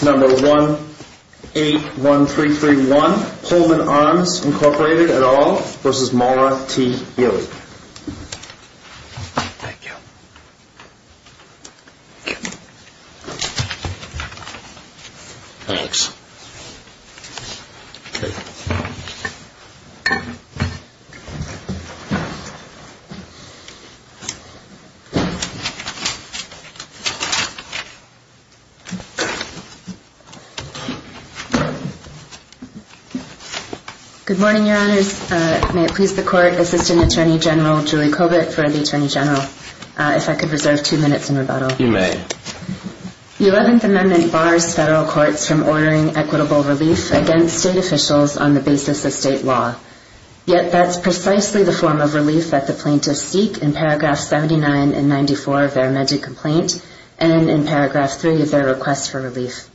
Number 181331, Pullman Arms, Incorporated, et al. v. Mahler T. Healey Thank you Thank you Thanks Okay Good morning, Your Honors. May it please the Court, Assistant Attorney General Julie Kovett for the Attorney General, if I could reserve two minutes in rebuttal. You may The Eleventh Amendment bars federal courts from ordering equitable relief against state officials on the basis of state law. Yet that's precisely the form of relief that the plaintiffs seek in paragraphs 79 and 94 of their amended complaint and in paragraph 3 of their request for relief.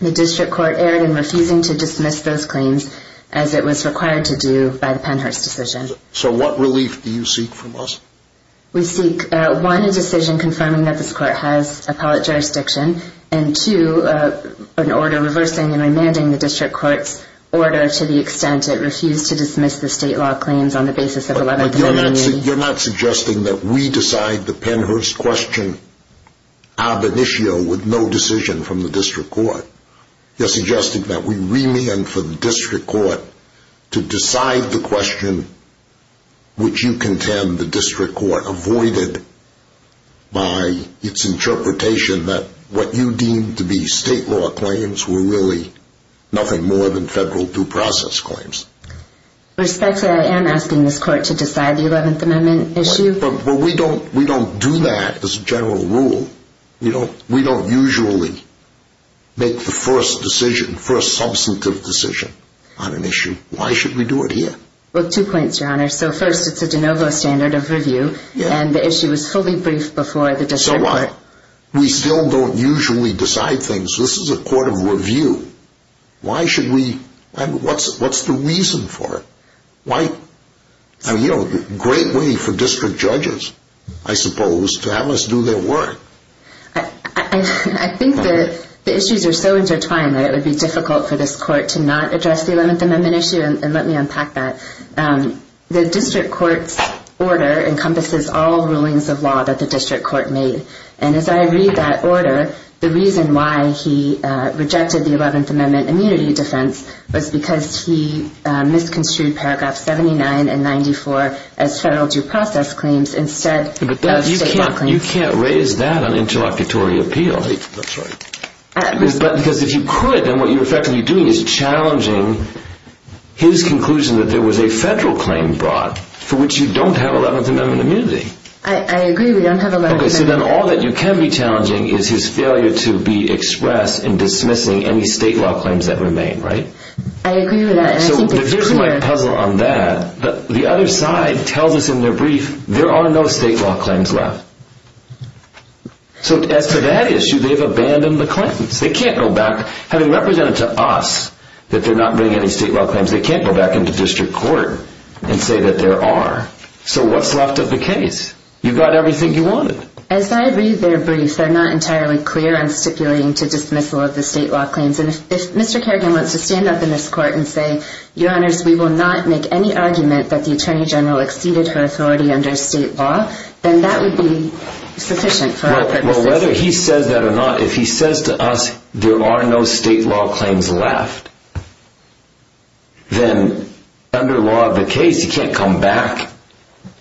The District Court erred in refusing to dismiss those claims as it was required to do by the Pennhurst decision. So what relief do you seek from us? We seek, one, a decision confirming that this Court has appellate jurisdiction, and two, an order reversing and remanding the District Court's order to the extent it refused to dismiss the state law claims on the basis of Eleventh Amendment. You're not suggesting that we decide the Pennhurst question ab initio with no decision from the District Court. You're suggesting that we remand for the District Court to decide the question which you contend the District Court avoided by its interpretation that what you deemed to be state law claims were really nothing more than federal due process claims. With respect to that, I am asking this Court to decide the Eleventh Amendment issue. But we don't do that as a general rule. We don't usually make the first substantive decision on an issue. Why should we do it here? Well, two points, Your Honor. So first, it's a de novo standard of review, and the issue is fully briefed before the District Court. We still don't usually decide things. This is a court of review. What's the reason for it? A great way for District judges, I suppose, to have us do their work. I think the issues are so intertwined that it would be difficult for this Court to not address the Eleventh Amendment issue, and let me unpack that. The District Court's order encompasses all rulings of law that the District Court made, and as I read that order, the reason why he rejected the Eleventh Amendment immunity defense was because he misconstrued paragraphs 79 and 94 as federal due process claims instead of state law claims. And you can't raise that on interlocutory appeal. Because if you could, then what you're effectively doing is challenging his conclusion that there was a federal claim brought for which you don't have Eleventh Amendment immunity. I agree, we don't have Eleventh Amendment immunity. Okay, so then all that you can be challenging is his failure to be expressed in dismissing any state law claims that remain, right? I agree with that, and I think it's clear. I think my puzzle on that, the other side tells us in their brief, there are no state law claims left. So as for that issue, they've abandoned the claims. They can't go back, having represented to us that they're not bringing any state law claims, they can't go back into District Court and say that there are. So what's left of the case? You've got everything you wanted. As I read their brief, they're not entirely clear on stipulating to dismiss all of the state law claims. And if Mr. Kerrigan wants to stand up in this court and say, Your Honors, we will not make any argument that the Attorney General exceeded her authority under state law, then that would be sufficient for our purposes. Well, whether he says that or not, if he says to us there are no state law claims left, then under law of the case, he can't come back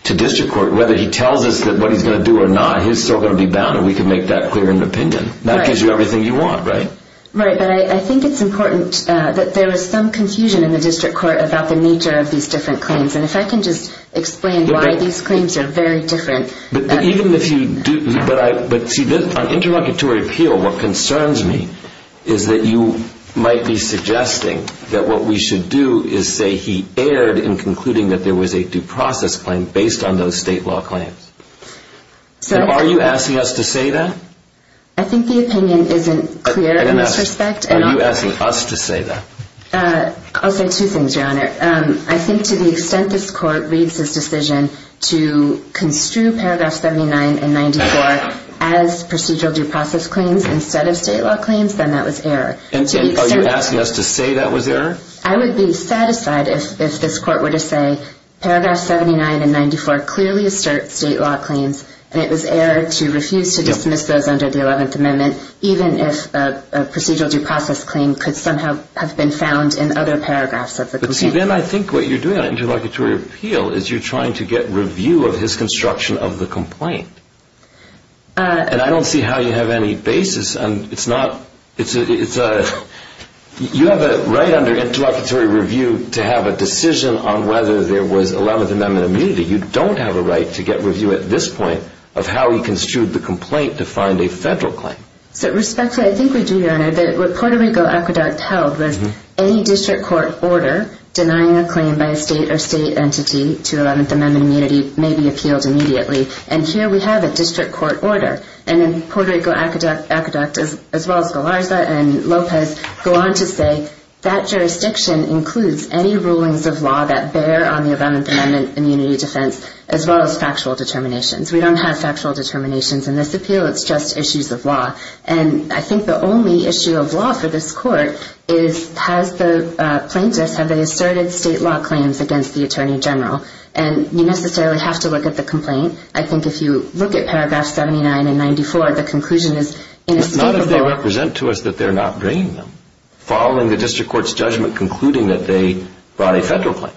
to District Court. Whether he tells us what he's going to do or not, he's still going to be bound and we can make that clear in the opinion. That gives you everything you want, right? Right, but I think it's important that there is some confusion in the District Court about the nature of these different claims. And if I can just explain why these claims are very different. On interlocutory appeal, what concerns me is that you might be suggesting that what we should do is say he erred in concluding that there was a due process claim based on those state law claims. Are you asking us to say that? I think the opinion isn't clear in this respect. Are you asking us to say that? I'll say two things, Your Honor. I think to the extent this Court reads this decision to construe paragraph 79 and 94 as procedural due process claims instead of state law claims, then that was error. Are you asking us to say that was error? I would be satisfied if this Court were to say paragraph 79 and 94 clearly assert state law claims and it was error to refuse to dismiss those under the 11th Amendment, even if a procedural due process claim could somehow have been found in other paragraphs of the complaint. But then I think what you're doing on interlocutory appeal is you're trying to get review of his construction of the complaint. And I don't see how you have any basis. You have a right under interlocutory review to have a decision on whether there was 11th Amendment immunity. You don't have a right to get review at this point of how he construed the complaint to find a federal claim. So respectfully, I think we do, Your Honor, that what Puerto Rico Aqueduct held was any district court order denying a claim by a state or state entity to 11th Amendment immunity may be appealed immediately. And here we have a district court order. And then Puerto Rico Aqueduct as well as Galarza and Lopez go on to say that jurisdiction includes any rulings of law that bear on the 11th Amendment immunity defense as well as factual determinations. We don't have factual determinations in this appeal. It's just issues of law. And I think the only issue of law for this Court is has the plaintiffs, have they asserted state law claims against the Attorney General? And I think if you look at paragraphs 79 and 94, the conclusion is inescapable. It's not as they represent to us that they're not bringing them. Following the district court's judgment concluding that they brought a federal claim.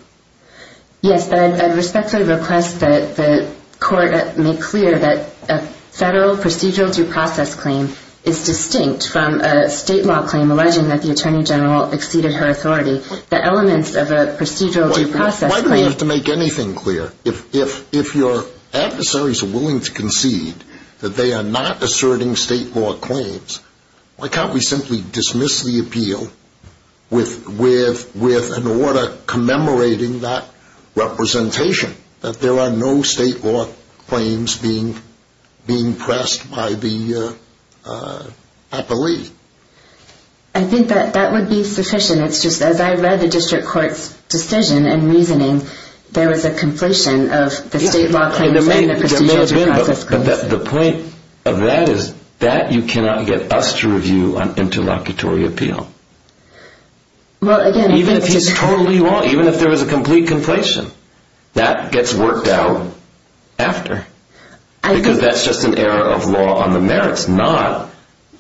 Yes, but I respectfully request that the Court make clear that a federal procedural due process claim is distinct from a state law claim alleging that the Attorney General exceeded her authority. The elements of a procedural due process claim... Why do we have to make anything clear? If your adversaries are willing to concede that they are not asserting state law claims, why can't we simply dismiss the appeal with an order commemorating that representation? That there are no state law claims being pressed by the appellee. I think that would be sufficient. It's just as I read the district court's decision and reasoning, there was a conflation of the state law claims and the procedural due process claims. The point of that is that you cannot get us to review an interlocutory appeal. Even if he's totally wrong. Even if there was a complete conflation. That gets worked out after. Because that's just an error of law on the merits, not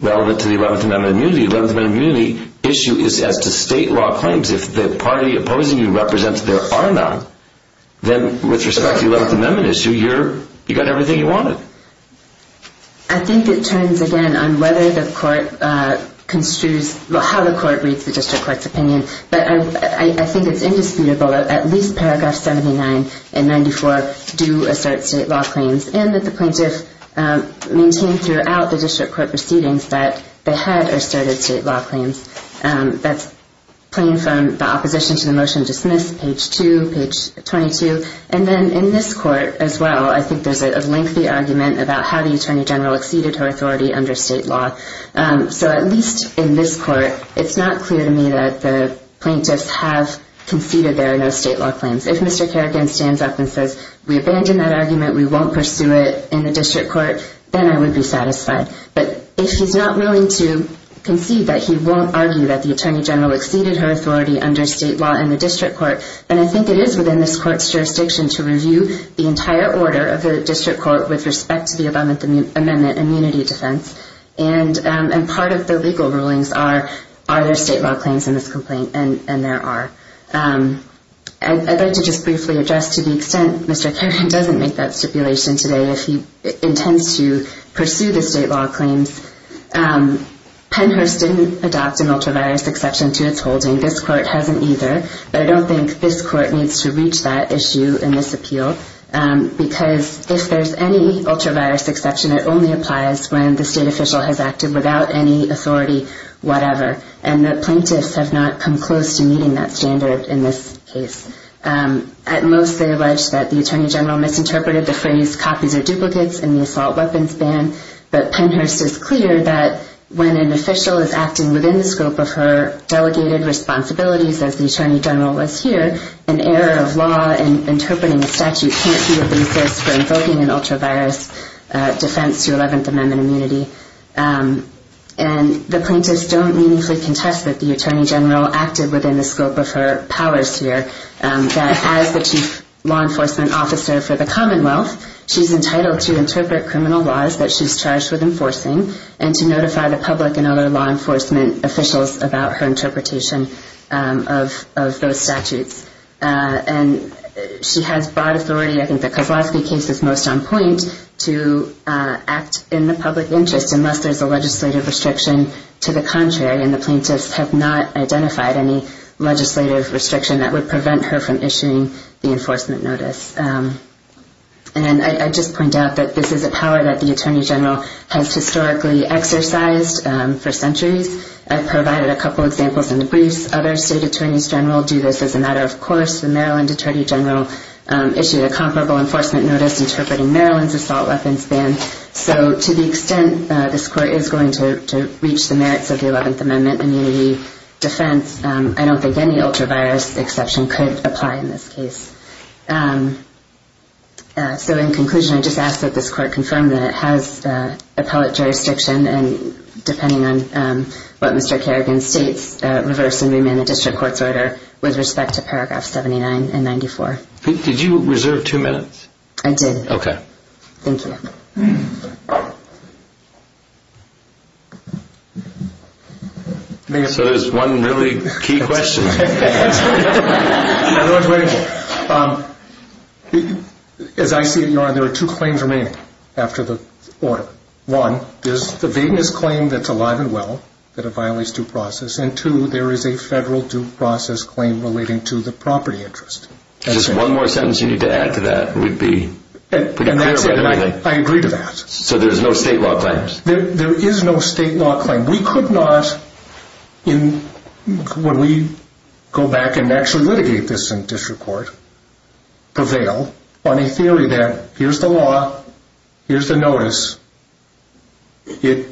relevant to the 11th Amendment immunity. The 11th Amendment immunity issue is as to state law claims. If the party opposing you represents there are none, then with respect to the 11th Amendment issue, you got everything you wanted. I think it turns again on whether the court construes, how the court reads the district court's opinion. But I think it's indisputable that at least paragraph 79 and 94 do assert state law claims. And that the plaintiff maintained throughout the district court proceedings that they had asserted state law claims. That's plain from the opposition to the motion dismissed, page 2, page 22. And then in this court as well, I think there's a lengthy argument about how the Attorney General exceeded her authority under state law. So at least in this court, it's not clear to me that the plaintiffs have conceded there are no state law claims. If Mr. Kerrigan stands up and says, we abandon that argument, we won't pursue it in the district court, then I would be satisfied. But if he's not willing to concede that he won't argue that the Attorney General exceeded her authority under state law in the district court, then I think it is within this court's jurisdiction to review the entire order of the district court with respect to the 11th Amendment immunity defense. And part of the legal rulings are, are there state law claims in this complaint? And there are. I'd like to just briefly address, to the extent Mr. Kerrigan doesn't make that stipulation today, if he intends to pursue the state law claims, Pennhurst didn't adopt an ultravirus exception to its holding. This court hasn't either. But I don't think this court needs to reach that issue in this appeal. Because if there's any ultravirus exception, it only applies when the state official has acted without any authority, whatever. And the plaintiffs have not come close to meeting that standard in this case. At most, they allege that the Attorney General misinterpreted the phrase copies or duplicates in the assault weapons ban. But Pennhurst is clear that when an official is acting within the scope of her delegated responsibilities as the Attorney General was here, an error of law in interpreting the statute can't be a basis for invoking an ultravirus defense to 11th Amendment immunity. And the plaintiffs don't meaningfully contest that the Attorney General acted within the scope of her powers here. That as the Chief Law Enforcement Officer for the Commonwealth, she's entitled to interpret criminal laws that she's charged with enforcing and to notify the public and other law enforcement officials about her interpretation of those statutes. And she has broad authority, I think the Kozlowski case is most on point, to act in the public interest unless there's a legislative restriction to the contrary. And the plaintiffs have not identified any legislative restriction that would prevent her from issuing the enforcement notice. And I just point out that this is a power that the Attorney General has historically exercised for centuries. I provided a couple examples in the briefs. Other state attorneys general do this as a matter of course. The Maryland Attorney General issued a comparable enforcement notice interpreting Maryland's assault weapons ban. So to the extent this court is going to reach the merits of the 11th Amendment immunity defense, I don't think any ultravirus exception could apply in this case. So in conclusion, I just ask that this court confirm that it has appellate jurisdiction and depending on what Mr. Kerrigan states, reverse and remand the district court's order with respect to paragraphs 79 and 94. Did you reserve two minutes? I did. Okay. Thank you. So there's one really key question. As I see it, Your Honor, there are two claims remaining after the order. One, there's the vagueness claim that's alive and well, that it violates due process. And two, there is a federal due process claim relating to the property interest. Just one more sentence you need to add to that and we'd be clear about everything. I agree to that. So there's no state law claim? There is no state law claim. We could not, when we go back and actually litigate this in district court, prevail on a theory that here's the law, here's the notice. It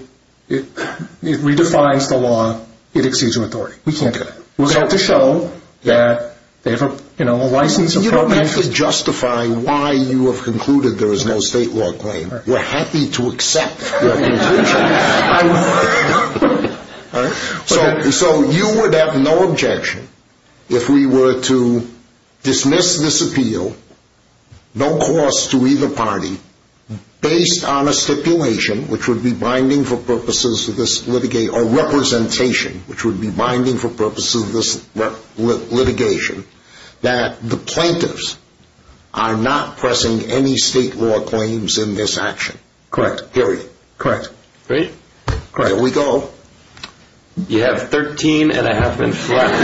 redefines the law. It exceeds your authority. We can't do that. We'll have to show that they have a license appropriation. You don't have to justify why you have concluded there is no state law claim. We're happy to accept your conclusion. So you would have no objection if we were to dismiss this appeal, no cost to either party, based on a stipulation which would be binding for purposes of this litigation, that the plaintiffs are not pressing any state law claims in this action. Correct. Period. Correct. Great. Here we go. You have 13 and a half minutes left.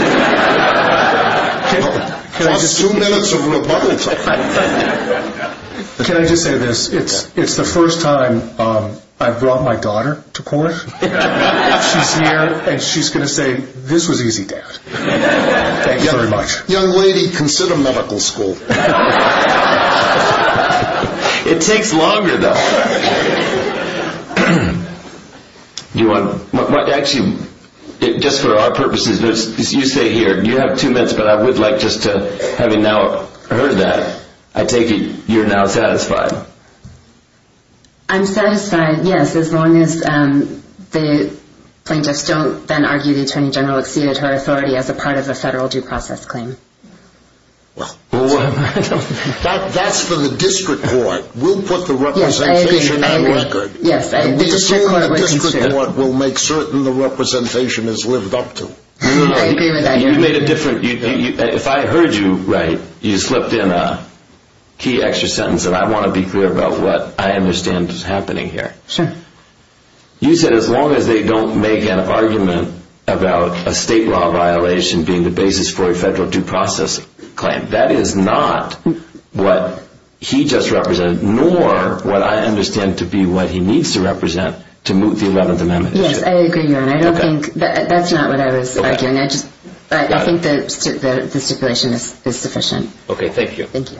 That's two minutes of rebuttal time. Can I just say this? It's the first time I've brought my daughter to court. She's here, and she's going to say, this was easy, Dad. Thank you very much. Young lady, consider medical school. It takes longer, though. Actually, just for our purposes, you stay here. You have two minutes, but I would like just to, having now heard that, I take it you're now satisfied. I'm satisfied, yes, as long as the plaintiffs don't then argue the Attorney General exceeded her authority as a part of a federal due process claim. That's for the district court. We'll put the representation on record. Yes, I agree. The district court will make certain the representation is lived up to. I agree with that. If I heard you right, you slipped in a key extra sentence, and I want to be clear about what I understand is happening here. Sure. You said as long as they don't make an argument about a state law violation being the basis for a federal due process claim. That is not what he just represented, nor what I understand to be what he needs to represent to move the 11th Amendment. Yes, I agree, Your Honor. That's not what I was arguing. I think the stipulation is sufficient. Okay, thank you. Thank you.